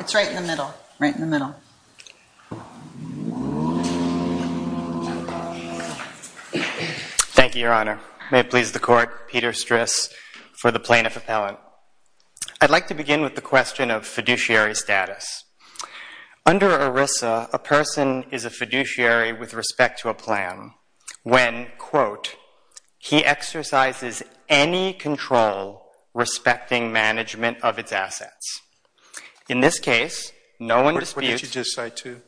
It's right in the middle, right in the middle. Thank you, Your Honor. May it please the Court, Peter Stris for the Plaintiff Appellant. I'd like to begin with the question of fiduciary status. Under ERISA, a person is a fiduciary with respect to a plan when, quote, he exercises any control respecting management of its assets. In this case, no one disputes— What did you just cite to?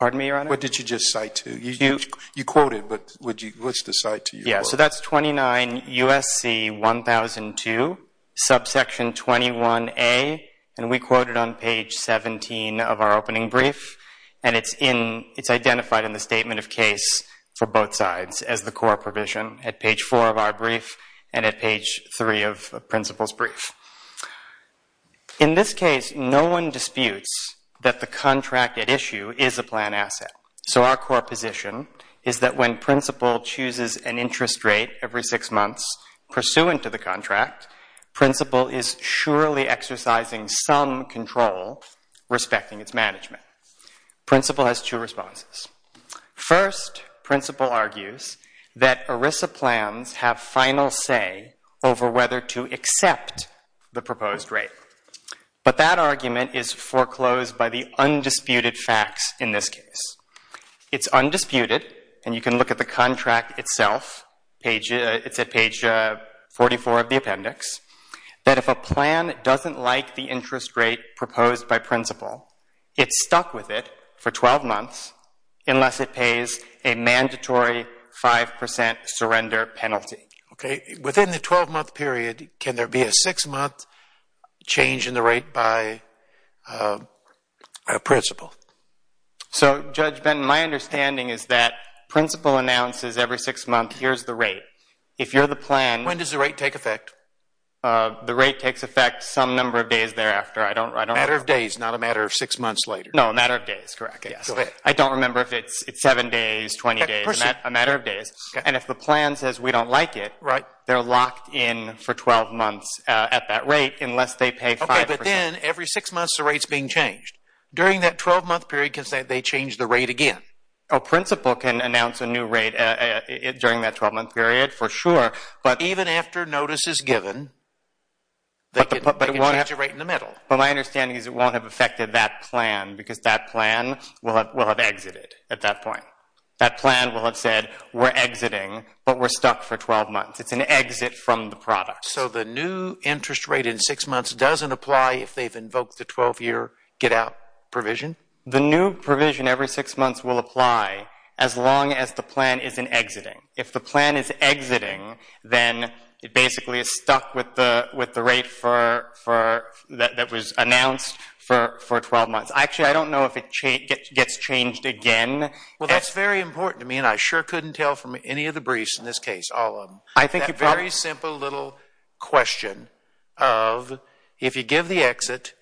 Pardon me, Your Honor? What did you just cite to? You quoted, but what's the cite to? Yeah, so that's 29 U.S.C. 1002, subsection 21A, and we quote it on page 17 of our opening brief, and it's identified in the statement of case for both sides as the core provision at page 4 of our brief and at page 3 of the principal's brief. In this case, no one disputes that the contract at issue is a plan asset, so our core position is that when principal chooses an interest rate every six months pursuant to the contract, principal is surely exercising some control respecting its management. Principal has two responses. First, principal argues that ERISA plans have final say over whether to accept the proposed rate, but that argument is foreclosed by the undisputed facts in this case. It's undisputed, and you can look at the contract itself. It's at page 44 of the appendix, that if a plan doesn't like the interest rate proposed by principal, it's stuck with it for 12 months unless it pays a mandatory 5 percent surrender penalty. Okay. Within the 12-month period, can there be a six-month change in the rate by a principal? So Judge Benton, my understanding is that principal announces every six months, here's the rate. If you're the plan— When does the rate take effect? The rate takes effect some number of days thereafter. A matter of days, not a matter of six months later. No, a matter of days, correct. I don't remember if it's seven days, 20 days, a matter of days. And if the plan says we don't like it, they're locked in for 12 months at that rate unless they pay 5 percent. Okay, but then every six months the rate's being changed. During that 12-month period, can they change the rate again? Principal can announce a new rate during that 12-month period for sure, but even after notice is given, they can change the rate in the middle. But my understanding is it won't have affected that plan because that plan will have exited at that point. That plan will have said we're exiting, but we're stuck for 12 months. It's an exit from the product. So the new interest rate in six months doesn't apply if they've invoked the 12-year get-out provision? The new provision every six months will apply as long as the plan isn't exiting. If the plan is exiting, then it basically is stuck with the rate that was announced for 12 months. Actually, I don't know if it gets changed again. Well, that's very important to me, and I sure couldn't tell from any of the briefs in this case, all of them. I think you probably... That very simple little question of if you give the exit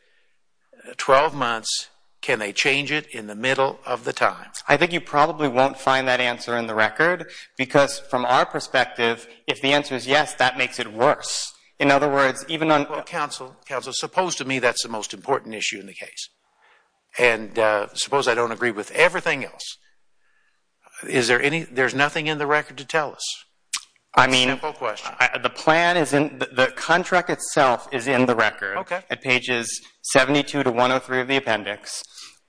12 months, can they change it in the middle of the time? I think you probably won't find that answer in the record, because from our perspective, if the answer is yes, that makes it worse. In other words, even on... Counsel, suppose to me that's the most important issue in the case, and suppose I don't agree with everything else. Is there any... There's nothing in the record to tell us? I mean, the contract itself is in the record at pages 72 to 103 of the appendix.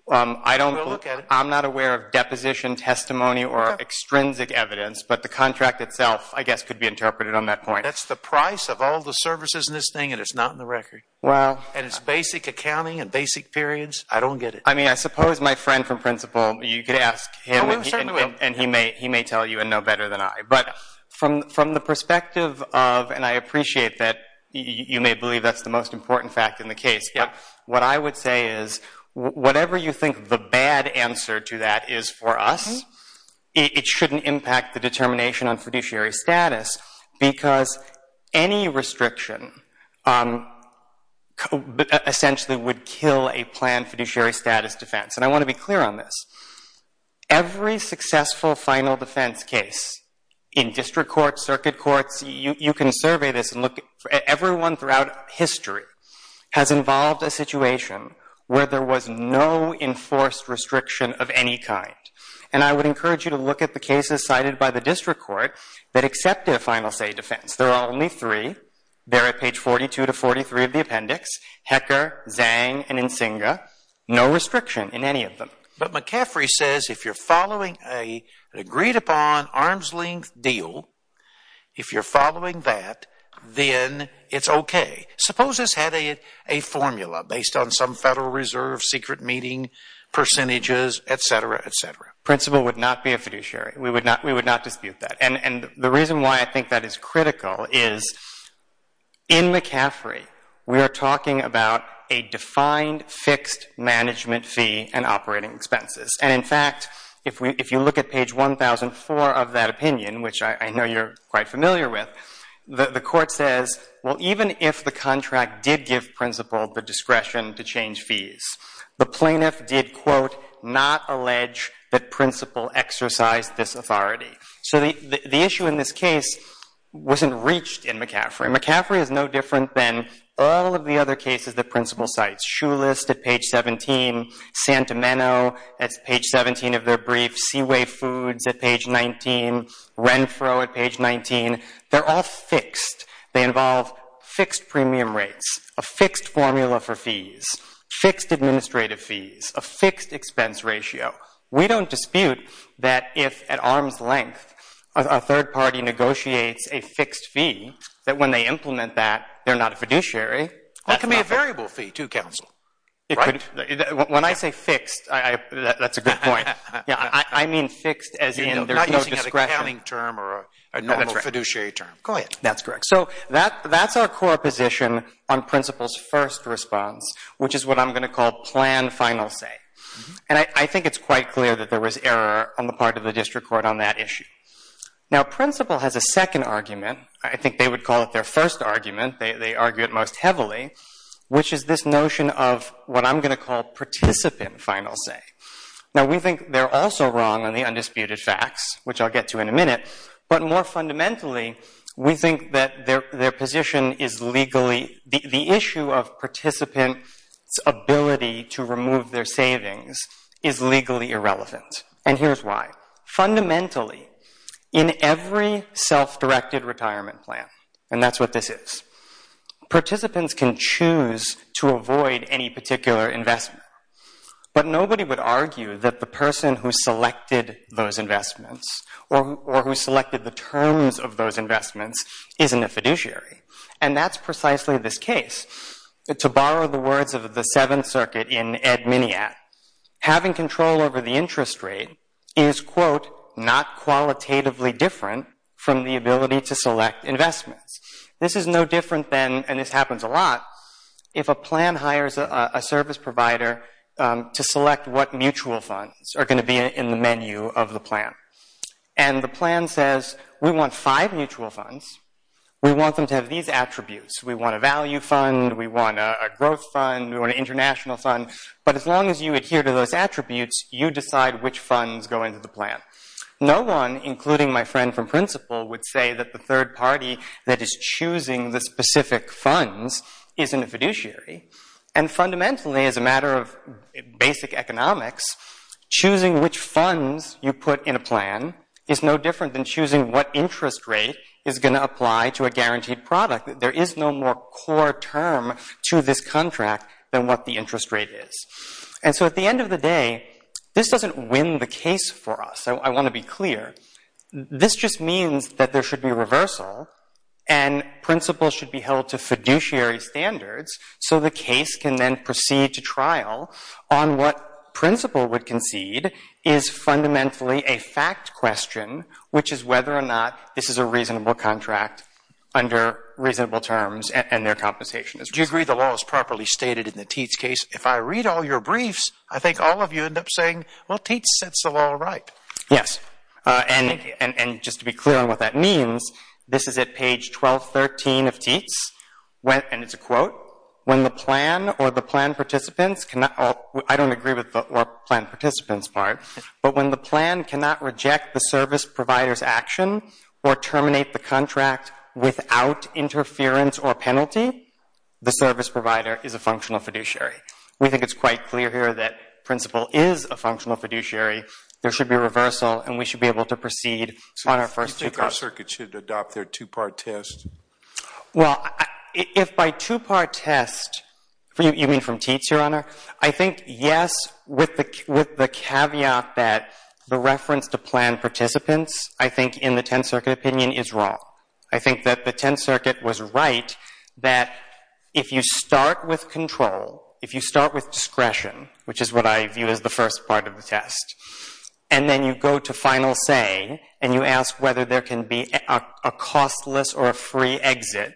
I don't... I don't have any sort of deposition testimony or extrinsic evidence, but the contract itself, I guess, could be interpreted on that point. That's the price of all the services in this thing, and it's not in the record. Well... And it's basic accounting and basic periods. I don't get it. I mean, I suppose my friend from principle, you could ask him, and he may tell you and know better than I, but from the perspective of... And I appreciate that you may believe that's the most important fact in the case, but what I would say is, whatever you think the bad answer to that is for us, it shouldn't impact the determination on fiduciary status, because any restriction essentially would kill a planned fiduciary status defense, and I want to be clear on this. Every successful final defense case in district courts, circuit courts, you can survey this and look... Everyone throughout history has involved a situation where there was no enforced restriction of any kind, and I would encourage you to look at the cases cited by the district court that accepted a final say defense. There are only three. They're at page 42 to 43 of the appendix, Hecker, Zhang, and Nsingha. No restriction in any of them. But McCaffrey says if you're following an agreed-upon, arm's-length deal, if you're following an agreed-upon deal, then it's okay. Suppose this had a formula based on some Federal Reserve secret meeting percentages, et cetera, et cetera. Principal would not be a fiduciary. We would not dispute that, and the reason why I think that is critical is, in McCaffrey, we are talking about a defined, fixed management fee and operating expenses, and in fact, if you look at page 1004 of that opinion, which I know you're quite familiar with, the court says, well, even if the contract did give principal the discretion to change fees, the plaintiff did, quote, not allege that principal exercised this authority. So the issue in this case wasn't reached in McCaffrey. McCaffrey is no different than all of the other cases that principal cites, Shulist at page 17, Santameno at page 17 of their brief, Seaway Foods at page 19, Renfro at page 19, they're all fixed. They involve fixed premium rates, a fixed formula for fees, fixed administrative fees, a fixed expense ratio. We don't dispute that if, at arm's length, a third party negotiates a fixed fee, that when they implement that, they're not a fiduciary. That can be a variable fee, too, counsel. When I say fixed, that's a good point. I mean fixed as in there's no discretion. It's a normal accounting term or a normal fiduciary term. Go ahead. That's correct. So that's our core position on principal's first response, which is what I'm going to call plan final say. And I think it's quite clear that there was error on the part of the district court on that issue. Now principal has a second argument. I think they would call it their first argument. They argue it most heavily, which is this notion of what I'm going to call participant final say. Now we think they're also wrong on the undisputed facts, which I'll get to in a minute. But more fundamentally, we think that their position is legally, the issue of participant's ability to remove their savings is legally irrelevant. And here's why. Fundamentally, in every self-directed retirement plan, and that's what this is, participants can choose to avoid any particular investment. But nobody would argue that the person who selected those investments or who selected the terms of those investments isn't a fiduciary. And that's precisely this case. To borrow the words of the Seventh Circuit in Ed Miniat, having control over the interest rate is, quote, not qualitatively different from the ability to select investments. This is no different than, and this happens a lot, if a plan hires a service provider to select what mutual funds are going to be in the menu of the plan. And the plan says, we want five mutual funds, we want them to have these attributes. We want a value fund, we want a growth fund, we want an international fund. But as long as you adhere to those attributes, you decide which funds go into the plan. No one, including my friend from principle, would say that the third party that is choosing the specific funds isn't a fiduciary. And fundamentally, as a matter of basic economics, choosing which funds you put in a plan is no different than choosing what interest rate is going to apply to a guaranteed product. There is no more core term to this contract than what the interest rate is. And so at the end of the day, this doesn't win the case for us. I want to be clear. This just means that there should be reversal and principle should be held to fiduciary standards so the case can then proceed to trial on what principle would concede is fundamentally a fact question, which is whether or not this is a reasonable contract under reasonable terms and their compensation is reasonable. Do you agree the law is properly stated in the Teats case? If I read all your briefs, I think all of you end up saying, well, Teats sets the law right. Yes. And just to be clear on what that means, this is at page 1213 of Teats, and it's a quote, when the plan or the plan participants cannot, I don't agree with the plan participants part, but when the plan cannot reject the service provider's action or terminate the contract without interference or penalty, the service provider is a functional fiduciary. We think it's quite clear here that principle is a functional fiduciary. There should be reversal, and we should be able to proceed on our first takeoff. So you think our circuit should adopt their two-part test? Well, if by two-part test, you mean from Teats, Your Honor? I think yes, with the caveat that the reference to plan participants, I think in the Tenth Circuit opinion, is wrong. I think that the Tenth Circuit was right that if you start with control, if you start with a two-part test, and then you go to final say, and you ask whether there can be a costless or a free exit,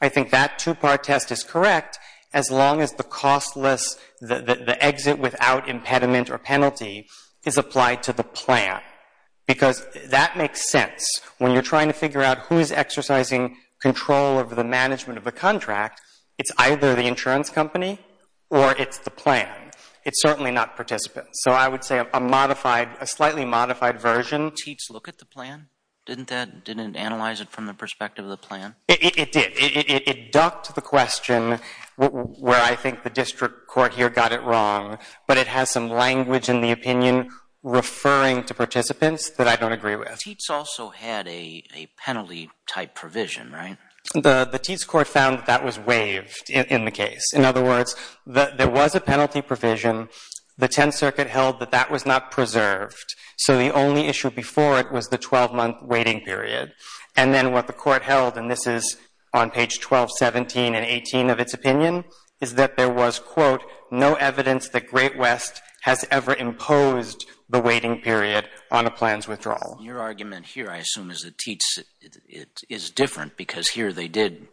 I think that two-part test is correct as long as the costless, the exit without impediment or penalty is applied to the plan, because that makes sense. When you're trying to figure out who is exercising control over the management of a contract, it's either the insurance company or it's the plan. It's certainly not participants. So I would say a modified, a slightly modified version. Teats look at the plan? Didn't that, didn't it analyze it from the perspective of the plan? It did. It ducked the question where I think the district court here got it wrong, but it has some language in the opinion referring to participants that I don't agree with. Teats also had a penalty-type provision, right? The Teats court found that that was waived in the case. In other words, there was a penalty provision. The Tenth Circuit held that that was not preserved. So the only issue before it was the 12-month waiting period. And then what the court held, and this is on page 12, 17, and 18 of its opinion, is that there was, quote, no evidence that Great West has ever imposed the waiting period on a plan's withdrawal. Your argument here, I assume, is that Teats, it is different because here they did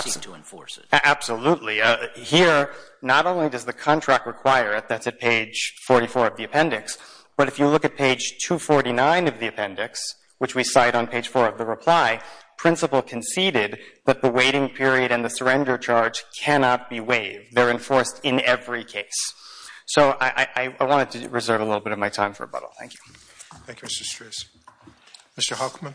seek to enforce it. Absolutely. Here, not only does the contract require it, that's at page 44 of the appendix, but if you look at page 249 of the appendix, which we cite on page 4 of the reply, principal conceded that the waiting period and the surrender charge cannot be waived. They're enforced in every case. So I wanted to reserve a little bit of my time for rebuttal. Thank you. Thank you, Mr. Stris. Mr. Hochman?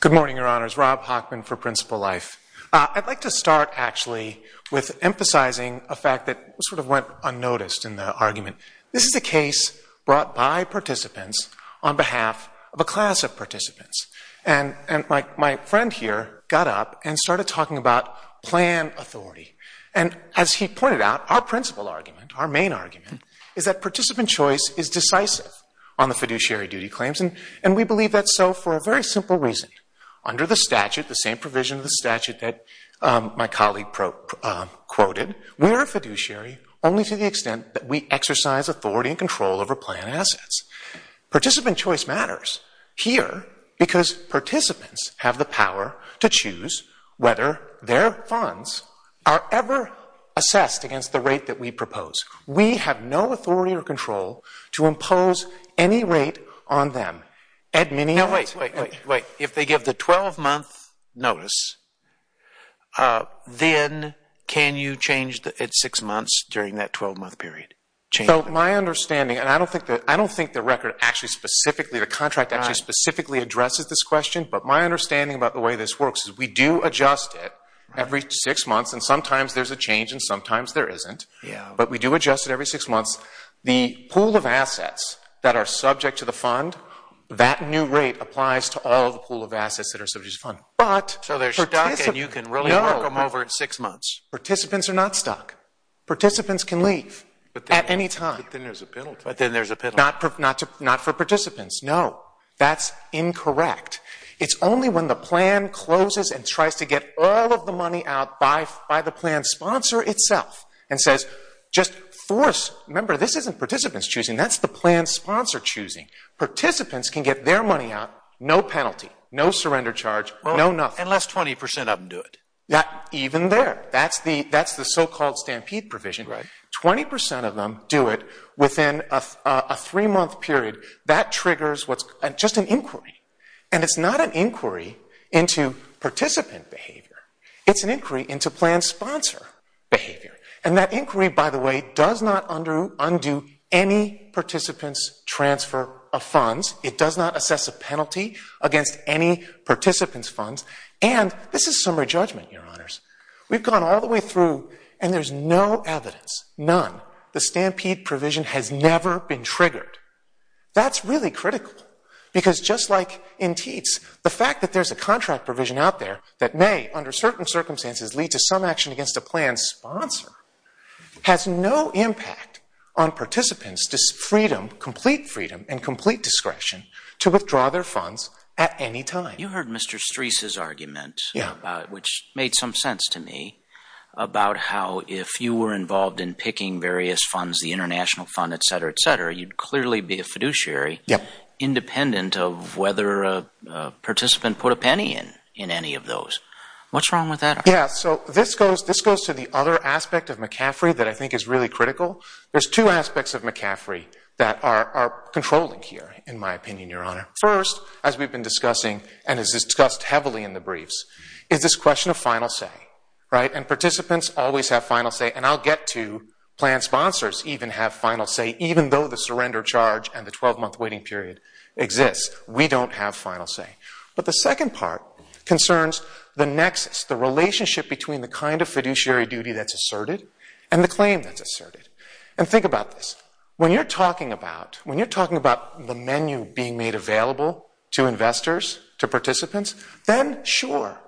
Good morning, Your Honors. Rob Hochman for Principal Life. I'd like to start, actually, with emphasizing a fact that sort of went unnoticed in the argument. This is a case brought by participants on behalf of a class of participants. And my friend here got up and started talking about plan authority. And as he pointed out, our principal argument, our main argument, is that participant choice is decisive on the fiduciary duty claims. And we believe that's so for a very simple reason. Under the statute, the same provision of the statute that my colleague quoted, we are a fiduciary only to the extent that we exercise authority and control over plan assets. Participant choice matters here because participants have the power to choose whether their funds are ever assessed against the rate that we propose. We have no authority or control to impose any rate on them. Wait, wait, wait. If they give the 12-month notice, then can you change it at six months during that 12-month period? My understanding, and I don't think the record actually specifically, the contract actually specifically addresses this question, but my understanding about the way this works is we do adjust it every six months, and sometimes there's a change and sometimes there isn't. But we do adjust it every six months. The pool of assets that are subject to the fund, that new rate applies to all the pool of assets that are subject to the fund. So they're stuck and you can really work them over at six months. Participants are not stuck. Participants can leave. At any time. But then there's a penalty. But then there's a penalty. Not for participants, no. That's incorrect. It's only when the plan closes and tries to get all of the money out by the plan sponsor itself and says just force, remember this isn't participants choosing, that's the plan sponsor choosing. Participants can get their money out, no penalty, no surrender charge, no nothing. Unless 20 percent of them do it. Even there. That's the so-called stampede provision. 20 percent of them do it within a three-month period. That triggers just an inquiry. And it's not an inquiry into participant behavior. It's an inquiry into plan sponsor behavior. And that inquiry, by the way, does not undo any participant's transfer of funds. It does not assess a penalty against any participant's funds. And this is summary judgment, your honors. We've gone all the way through and there's no evidence, none, the stampede provision has never been triggered. That's really critical. Because just like in TEATS, the fact that there's a contract provision out there that may, under certain circumstances, lead to some action against a plan sponsor has no impact on participants' freedom, complete freedom and complete discretion, to withdraw their funds at any time. You heard Mr. Streis' argument, which made some sense to me, about how if you were involved in picking various funds, the international fund, et cetera, et cetera, you'd clearly be a fiduciary, independent of whether a participant put a penny in any of those. What's wrong with that? Yeah, so this goes to the other aspect of McCaffrey that I think is really critical. There's two aspects of McCaffrey that are controlling here, in my opinion, your honor. First, as we've been discussing and as discussed heavily in the briefs, is this question of final say. And participants always have final say and I'll get to plan sponsors even have final say, even though the surrender charge and the 12-month waiting period exists. We don't have final say. But the second part concerns the nexus, the relationship between the kind of fiduciary duty that's asserted and the claim that's asserted. And think about this, when you're talking about the menu being made available to investors, to participants, then sure,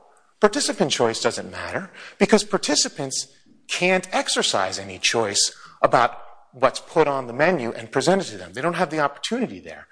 participant choice doesn't matter because participants can't exercise any choice about what's put on the menu and presented to them. They don't have the opportunity there.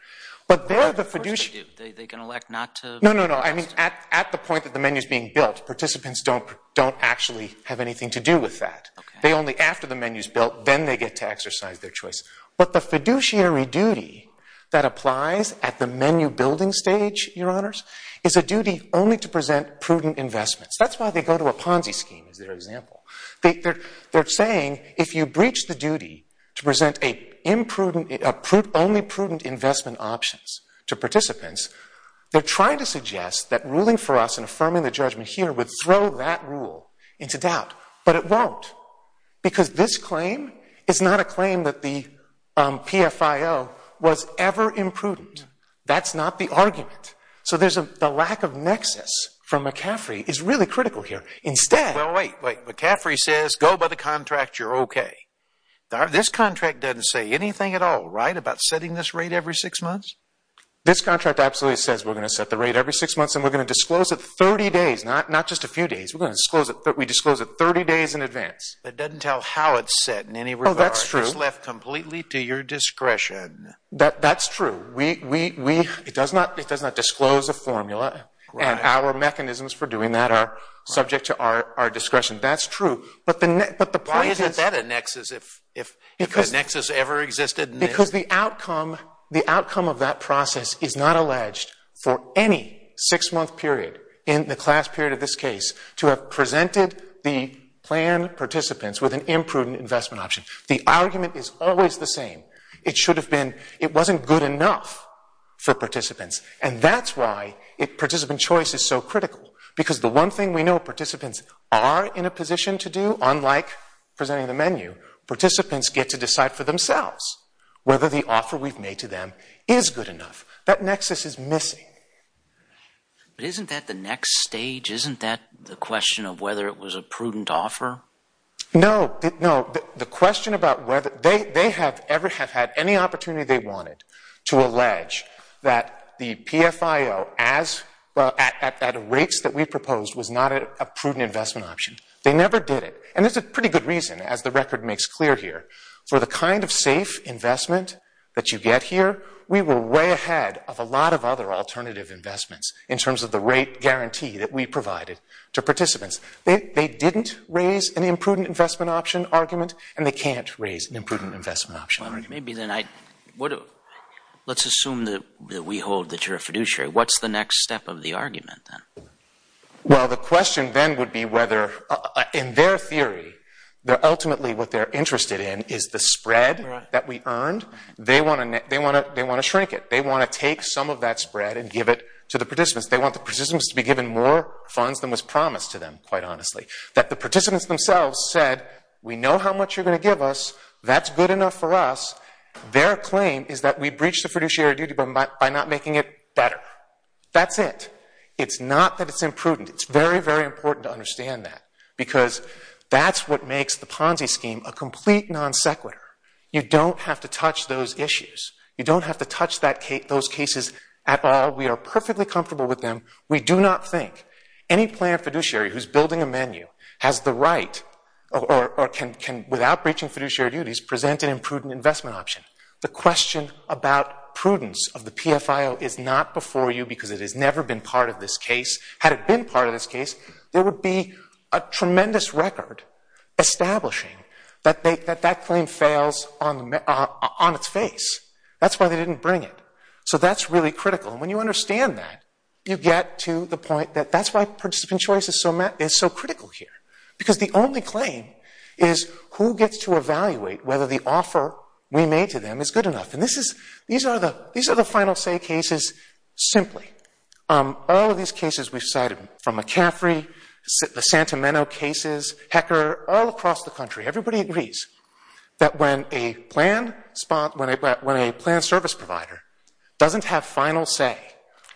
But they're the fiduciary. Of course they do. They can elect not to. No, no, no. I mean, at the point that the menu's being built, participants don't actually have anything to do with that. Okay. They only, after the menu's built, then they get to exercise their choice. But the fiduciary duty that applies at the menu building stage, your honors, is a duty only to present prudent investments. That's why they go to a Ponzi scheme as their example. They're saying if you breach the duty to present only prudent investment options to participants, they're trying to suggest that ruling for us and affirming the judgment here would throw that rule into doubt. But it won't. Because this claim is not a claim that the PFIO was ever imprudent. That's not the argument. So the lack of nexus from McCaffrey is really critical here. Instead... Well, wait, wait. McCaffrey says go by the contract, you're okay. This contract doesn't say anything at all, right, about setting this rate every six months? This contract absolutely says we're going to set the rate every six months and we're going to disclose it 30 days, not just a few days. We disclose it 30 days in advance. But it doesn't tell how it's set in any regard. Oh, that's true. It's left completely to your discretion. That's true. We... It does not disclose a formula and our mechanisms for doing that are subject to our discretion. That's true. But the point is... Why isn't that a nexus if a nexus ever existed? Because the outcome of that process is not alleged for any six-month period in the class period of this case to have presented the plan participants with an imprudent investment option. The argument is always the same. It should have been... It wasn't good enough for participants and that's why participant choice is so critical because the one thing we know participants are in a position to do, unlike presenting the menu, participants get to decide for themselves whether the offer we've made to them is good enough. That nexus is missing. But isn't that the next stage? Isn't that the question of whether it was a prudent offer? No. No. The question about whether... They have ever had any opportunity they wanted to allege that the PFIO as... At rates that we proposed was not a prudent investment option. They never did it. And there's a pretty good reason, as the record makes clear here. For the kind of safe investment that you get here, we were way ahead of a lot of other alternative investments in terms of the rate guarantee that we provided to participants. They didn't raise an imprudent investment option argument and they can't raise an imprudent investment option argument. Well, maybe then I... Let's assume that we hold that you're a fiduciary. What's the next step of the argument then? Well, the question then would be whether, in their theory, ultimately what they're interested in is the spread that we earned. They want to shrink it. They want to take some of that spread and give it to the participants. They want the participants to be given more funds than was promised to them, quite honestly. That the participants themselves said, we know how much you're going to give us. That's good enough for us. Their claim is that we breached the fiduciary duty by not making it better. That's it. It's not that it's imprudent. It's very, very important to understand that because that's what makes the Ponzi scheme a complete non sequitur. You don't have to touch those issues. You don't have to touch those cases at all. We are perfectly comfortable with them. We do not think any planned fiduciary who's building a menu has the right or can, without breaching fiduciary duties, present an imprudent investment option. The question about prudence of the PFIO is not before you because it has never been part of this case. Had it been part of this case, there would be a tremendous record establishing that that claim fails on its face. That's why they didn't bring it. So that's really critical. And when you understand that, you get to the point that that's why participant choice is so critical here. Because the only claim is who gets to evaluate whether the offer we made to them is good enough. And these are the final say cases simply. All of these cases we've cited from McCaffrey, the Santameno cases, Hecker, all across the country, everybody agrees that when a planned service provider doesn't have final say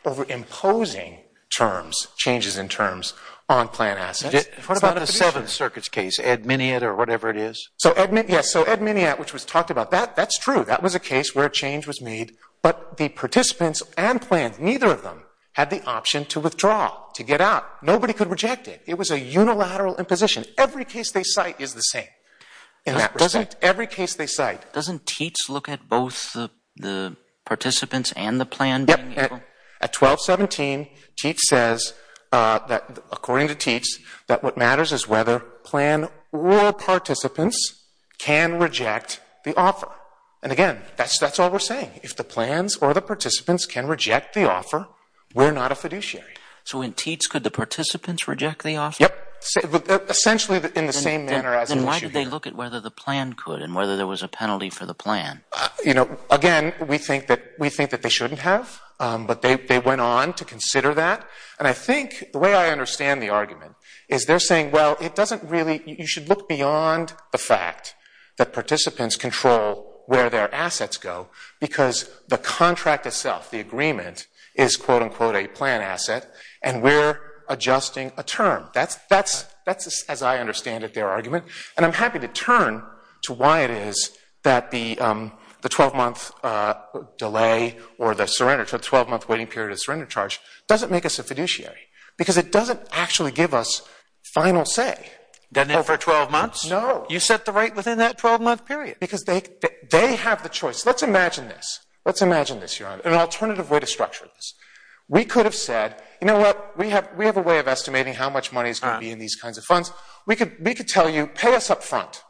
over imposing terms, changes in terms, on planned assets, it's not a fiduciary. What about the Seventh Circuit's case, Ed Miniat or whatever it is? So Ed Miniat, which was talked about, that's true. That was a case where change was made. But the participants and plans, neither of them had the option to withdraw, to get out. Nobody could reject it. It was a unilateral imposition. Every case they cite is the same in that respect. Every case they cite. Doesn't TEATS look at both the participants and the plan? Yep. At 1217, TEATS says, according to TEATS, that what matters is whether plan or participants can reject the offer. And again, that's all we're saying. If the plans or the participants can reject the offer, we're not a fiduciary. So in TEATS, could the participants reject the offer? Yep. Essentially in the same manner as in the Seventh Circuit. Then why did they look at whether the plan could and whether there was a penalty for the plan? You know, again, we think that they shouldn't have, but they went on to consider that. And I think, the way I understand the argument, is they're saying, well, it doesn't really You should look beyond the fact that participants control where their assets go, because the contract itself, the agreement, is, quote unquote, a plan asset, and we're adjusting a term. That's, as I understand it, their argument. And I'm happy to turn to why it is that the 12-month delay or the 12-month waiting period of surrender charge doesn't make us a fiduciary, because it doesn't actually give us final say. Doesn't it for 12 months? No. You set the rate within that 12-month period. Because they have the choice. Let's imagine this. Let's imagine this, Your Honor, an alternative way to structure this. We could have said, you know what, we have a way of estimating how much money is going to be in these kinds of funds. We could tell you, pay us up front.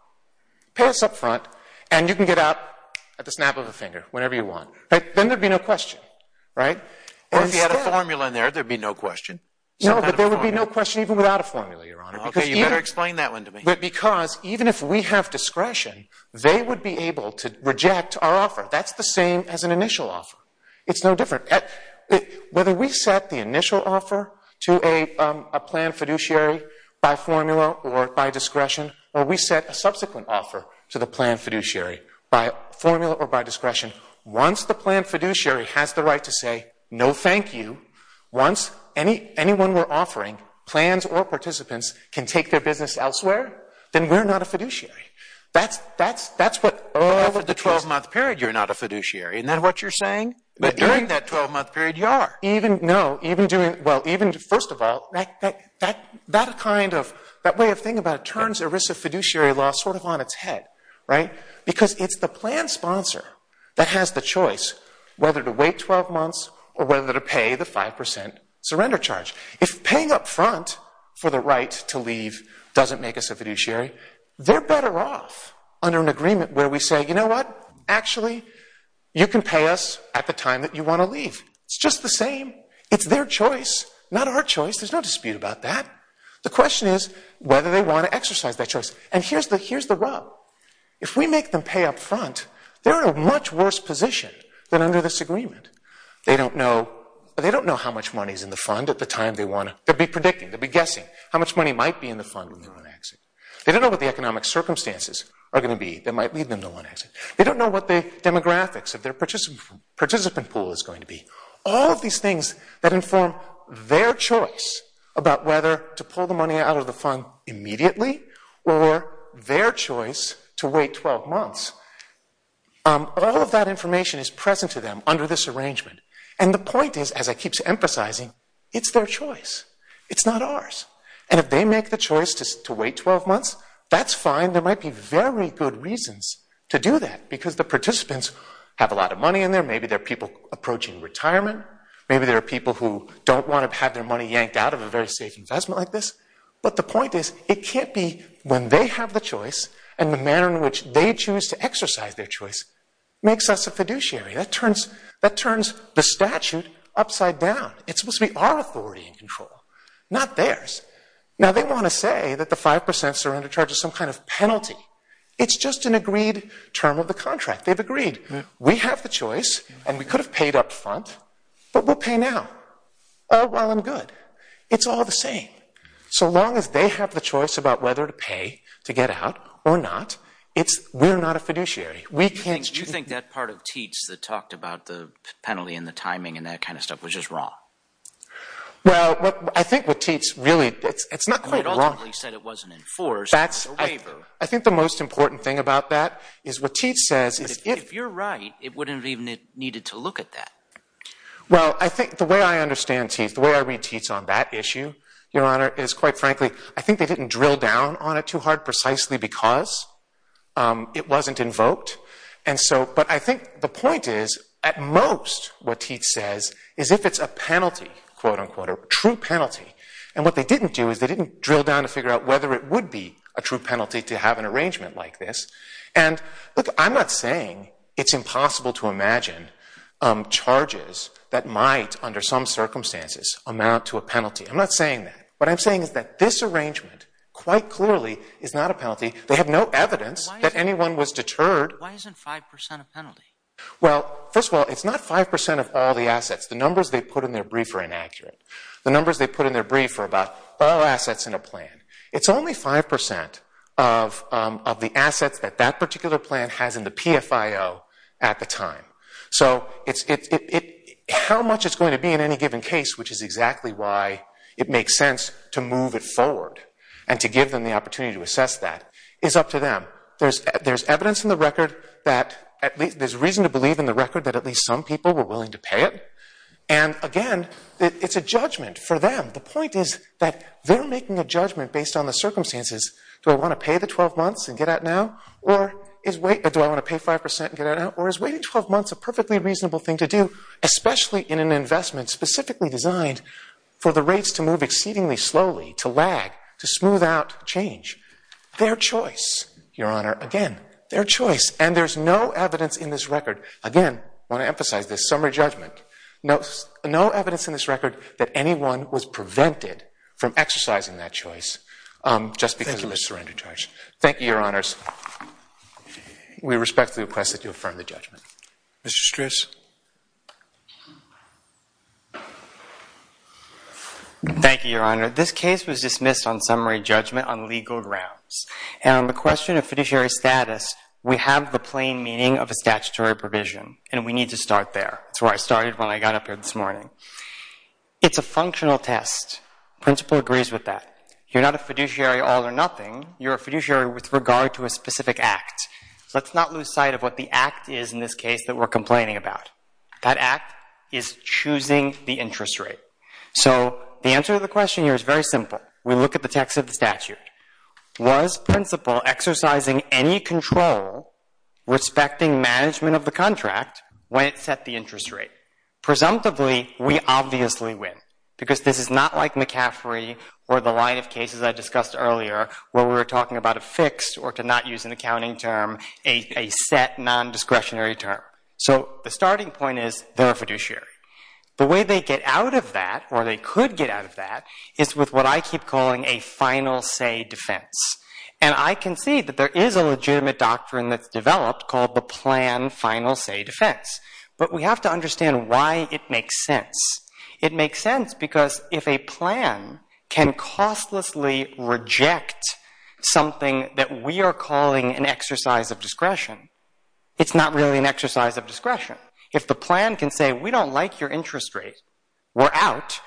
Pay us up front, and you can get out at the snap of a finger, whenever you want. But then there'd be no question, right? Or if you had a formula in there, there'd be no question. No, but there would be no question even without a formula, Your Honor. Okay, you better explain that one to me. Because even if we have discretion, they would be able to reject our offer. That's the same as an initial offer. It's no different. Whether we set the initial offer to a planned fiduciary by formula or by discretion, or we set a subsequent offer to the planned fiduciary by formula or by discretion, once the planned fiduciary has the right to say, no thank you, once anyone we're offering, plans or participants, can take their business elsewhere, then we're not a fiduciary. That's what all of the cases- After the 12-month period, you're not a fiduciary. Isn't that what you're saying? But during that 12-month period, you are. No, even doing, well, even, first of all, that kind of, that way of thinking about it turns ERISA fiduciary law sort of on its head, right? Because it's the planned sponsor that has the choice whether to wait 12 months or whether to pay the 5% surrender charge. If paying up front for the right to leave doesn't make us a fiduciary, they're better off under an agreement where we say, you know what, actually, you can pay us at the time that you want to leave. It's just the same. It's their choice, not our choice. There's no dispute about that. The question is whether they want to exercise that choice. And here's the rub. If we make them pay up front, they're in a much worse position than under this agreement. They don't know how much money is in the fund at the time they want to, they'll be predicting, they'll be guessing how much money might be in the fund when they want to exit. They don't know what the economic circumstances are going to be that might lead them to want to exit. They don't know what the demographics of their participant pool is going to be. All of these things that inform their choice about whether to pull the money out of the fund immediately or their choice to wait 12 months, all of that information is present to them under this arrangement. And the point is, as I keep emphasizing, it's their choice. It's not ours. And if they make the choice to wait 12 months, that's fine. There might be very good reasons to do that, because the participants have a lot of money in there, maybe they're people approaching retirement, maybe they're people who don't want to have their money yanked out of a very safe investment like this. But the point is, it can't be when they have the choice and the manner in which they choose to exercise their choice makes us a fiduciary. That turns the statute upside down. It's supposed to be our authority and control, not theirs. Now they want to say that the 5%s are under charge of some kind of penalty. It's just an agreed term of the contract. They've agreed. We have the choice and we could have paid up front, but we'll pay now, while I'm good. It's all the same. So long as they have the choice about whether to pay to get out or not, we're not a fiduciary. You think that part of Teats that talked about the penalty and the timing and that kind of stuff was just wrong? Well, I think what Teats really... It's not quite wrong. It ultimately said it wasn't enforced. I think the most important thing about that is what Teats says is... If you're right, it wouldn't have even needed to look at that. Well, I think the way I understand Teats, the way I read Teats on that issue, Your Honor, is quite frankly, I think they didn't drill down on it too hard precisely because it wasn't invoked. But I think the point is, at most, what Teats says is if it's a penalty, a true penalty, and what they didn't do is they didn't drill down to figure out whether it would be a true penalty to have an arrangement like this. And look, I'm not saying it's impossible to imagine charges that might, under some circumstances, amount to a penalty. I'm not saying that. What I'm saying is that this arrangement quite clearly is not a penalty. They have no evidence that anyone was deterred. Why isn't 5% a penalty? Well, first of all, it's not 5% of all the assets. The numbers they put in their brief are inaccurate. The numbers they put in their brief are about all assets in a plan. It's only 5% of the assets that that particular plan has in the PFIO at the time. So how much it's going to be in any given case, which is exactly why it makes sense to move it forward and to give them the opportunity to assess that, is up to them. There's evidence in the record that at least there's reason to believe in the record that at least some people were willing to pay it. And again, it's a judgment for them. The point is that they're making a judgment based on the circumstances. Do I want to pay the 12 months and get out now? Or do I want to pay 5% and get out now? Or is waiting 12 months a perfectly reasonable thing to do, especially in an investment specifically designed for the rates to move exceedingly slowly, to lag, to smooth out change? Their choice, Your Honor. Again, their choice. And there's no evidence in this record. Again, I want to emphasize this summary judgment. No evidence in this record that anyone was prevented from exercising that choice just because of a surrender charge. Thank you, Your Honors. We respectfully request that you affirm the judgment. Mr. Stris. Thank you, Your Honor. This case was dismissed on summary judgment on legal grounds. And on the question of fiduciary status, we have the plain meaning of a statutory provision. And we need to start there. That's where I started when I got up here this morning. It's a functional test. Principal agrees with that. You're not a fiduciary all or nothing. You're a fiduciary with regard to a specific act. Let's not lose sight of what the act is in this case that we're complaining about. That act is choosing the interest rate. So the answer to the question here is very simple. We look at the text of the statute. Was Principal exercising any control respecting management of the contract when it set the interest rate? Presumptively, we obviously win. Because this is not like McCaffrey or the line of cases I discussed earlier, where we were talking about a fixed or, to not use an accounting term, a set non-discretionary term. So the starting point is they're a fiduciary. The way they get out of that, or they could get out of that, is with what I keep calling a final say defense. And I can see that there is a legitimate doctrine that's developed called the plan final say defense. But we have to understand why it makes sense. It makes sense because if a plan can costlessly reject something that we are calling an exercise of discretion, it's not really an exercise of discretion. If the plan can say, we don't like your interest rate, we're out,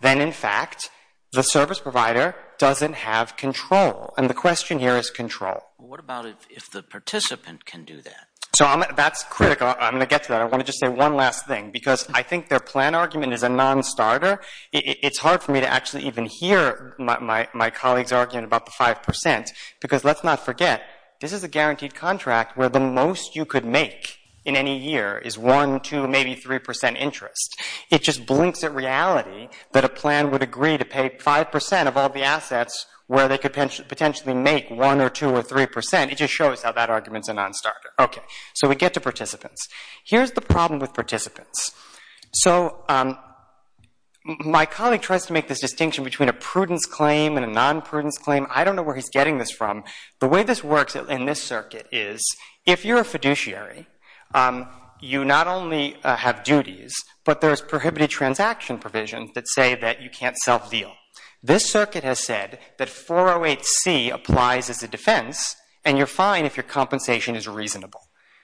then in fact the service provider doesn't have control. And the question here is control. What about if the participant can do that? So that's critical. I'm going to get to that. I want to just say one last thing. Because I think their plan argument is a non-starter. It's hard for me to actually even hear my colleague's argument about the 5%, because let's not forget, this is a guaranteed contract where the most you could make in any year is 1%, 2%, maybe 3% interest. It just blinks at reality that a plan would agree to pay 5% of all the assets where they could potentially make 1% or 2% or 3%. It just shows how that argument's a non-starter. OK. So we get to participants. Here's the problem with participants. So my colleague tries to make this distinction between a prudence claim and a non-prudence claim. I don't know where he's getting this from. The way this works in this circuit is, if you're a fiduciary, you not only have duties, but there's prohibited transaction provisions that say that you can't self-deal. This circuit has said that 408C applies as a defense, and you're fine if your compensation is reasonable.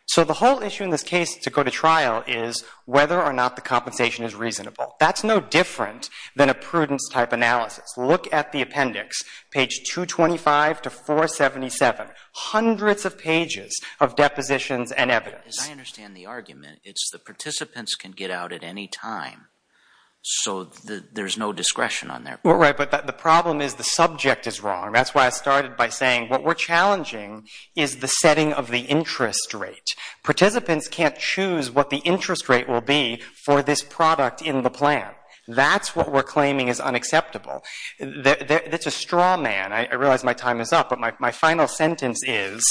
So the whole issue in this case to go to trial is whether or not the compensation is reasonable. That's no different than a prudence-type analysis. Look at the appendix, page 225 to 477. Hundreds of pages of depositions and evidence. As I understand the argument, it's the participants can get out at any time, so there's no discretion on their part. Right, but the problem is the subject is wrong. That's why I started by saying what we're challenging is the setting of the interest rate. Participants can't choose what the interest rate will be for this product in the plan. That's what we're claiming is unacceptable. That's a straw man. I realize my time is up, but my final sentence is,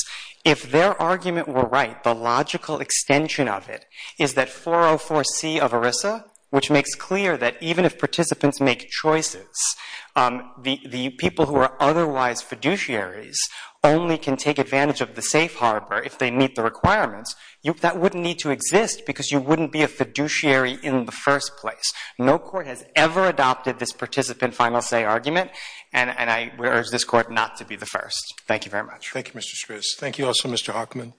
if their argument were right, the logical extension of it is that 404C of ERISA, which makes clear that even if participants make choices, the people who are otherwise fiduciaries only can take advantage of the safe harbour if they meet the requirements, that wouldn't need to exist because you wouldn't be a fiduciary in the first place. No court has ever adopted this participant final say argument, and I would urge this court not to be the first. Thank you very much. Thank you, Mr. Stris. Thank you also, Mr. Hockman.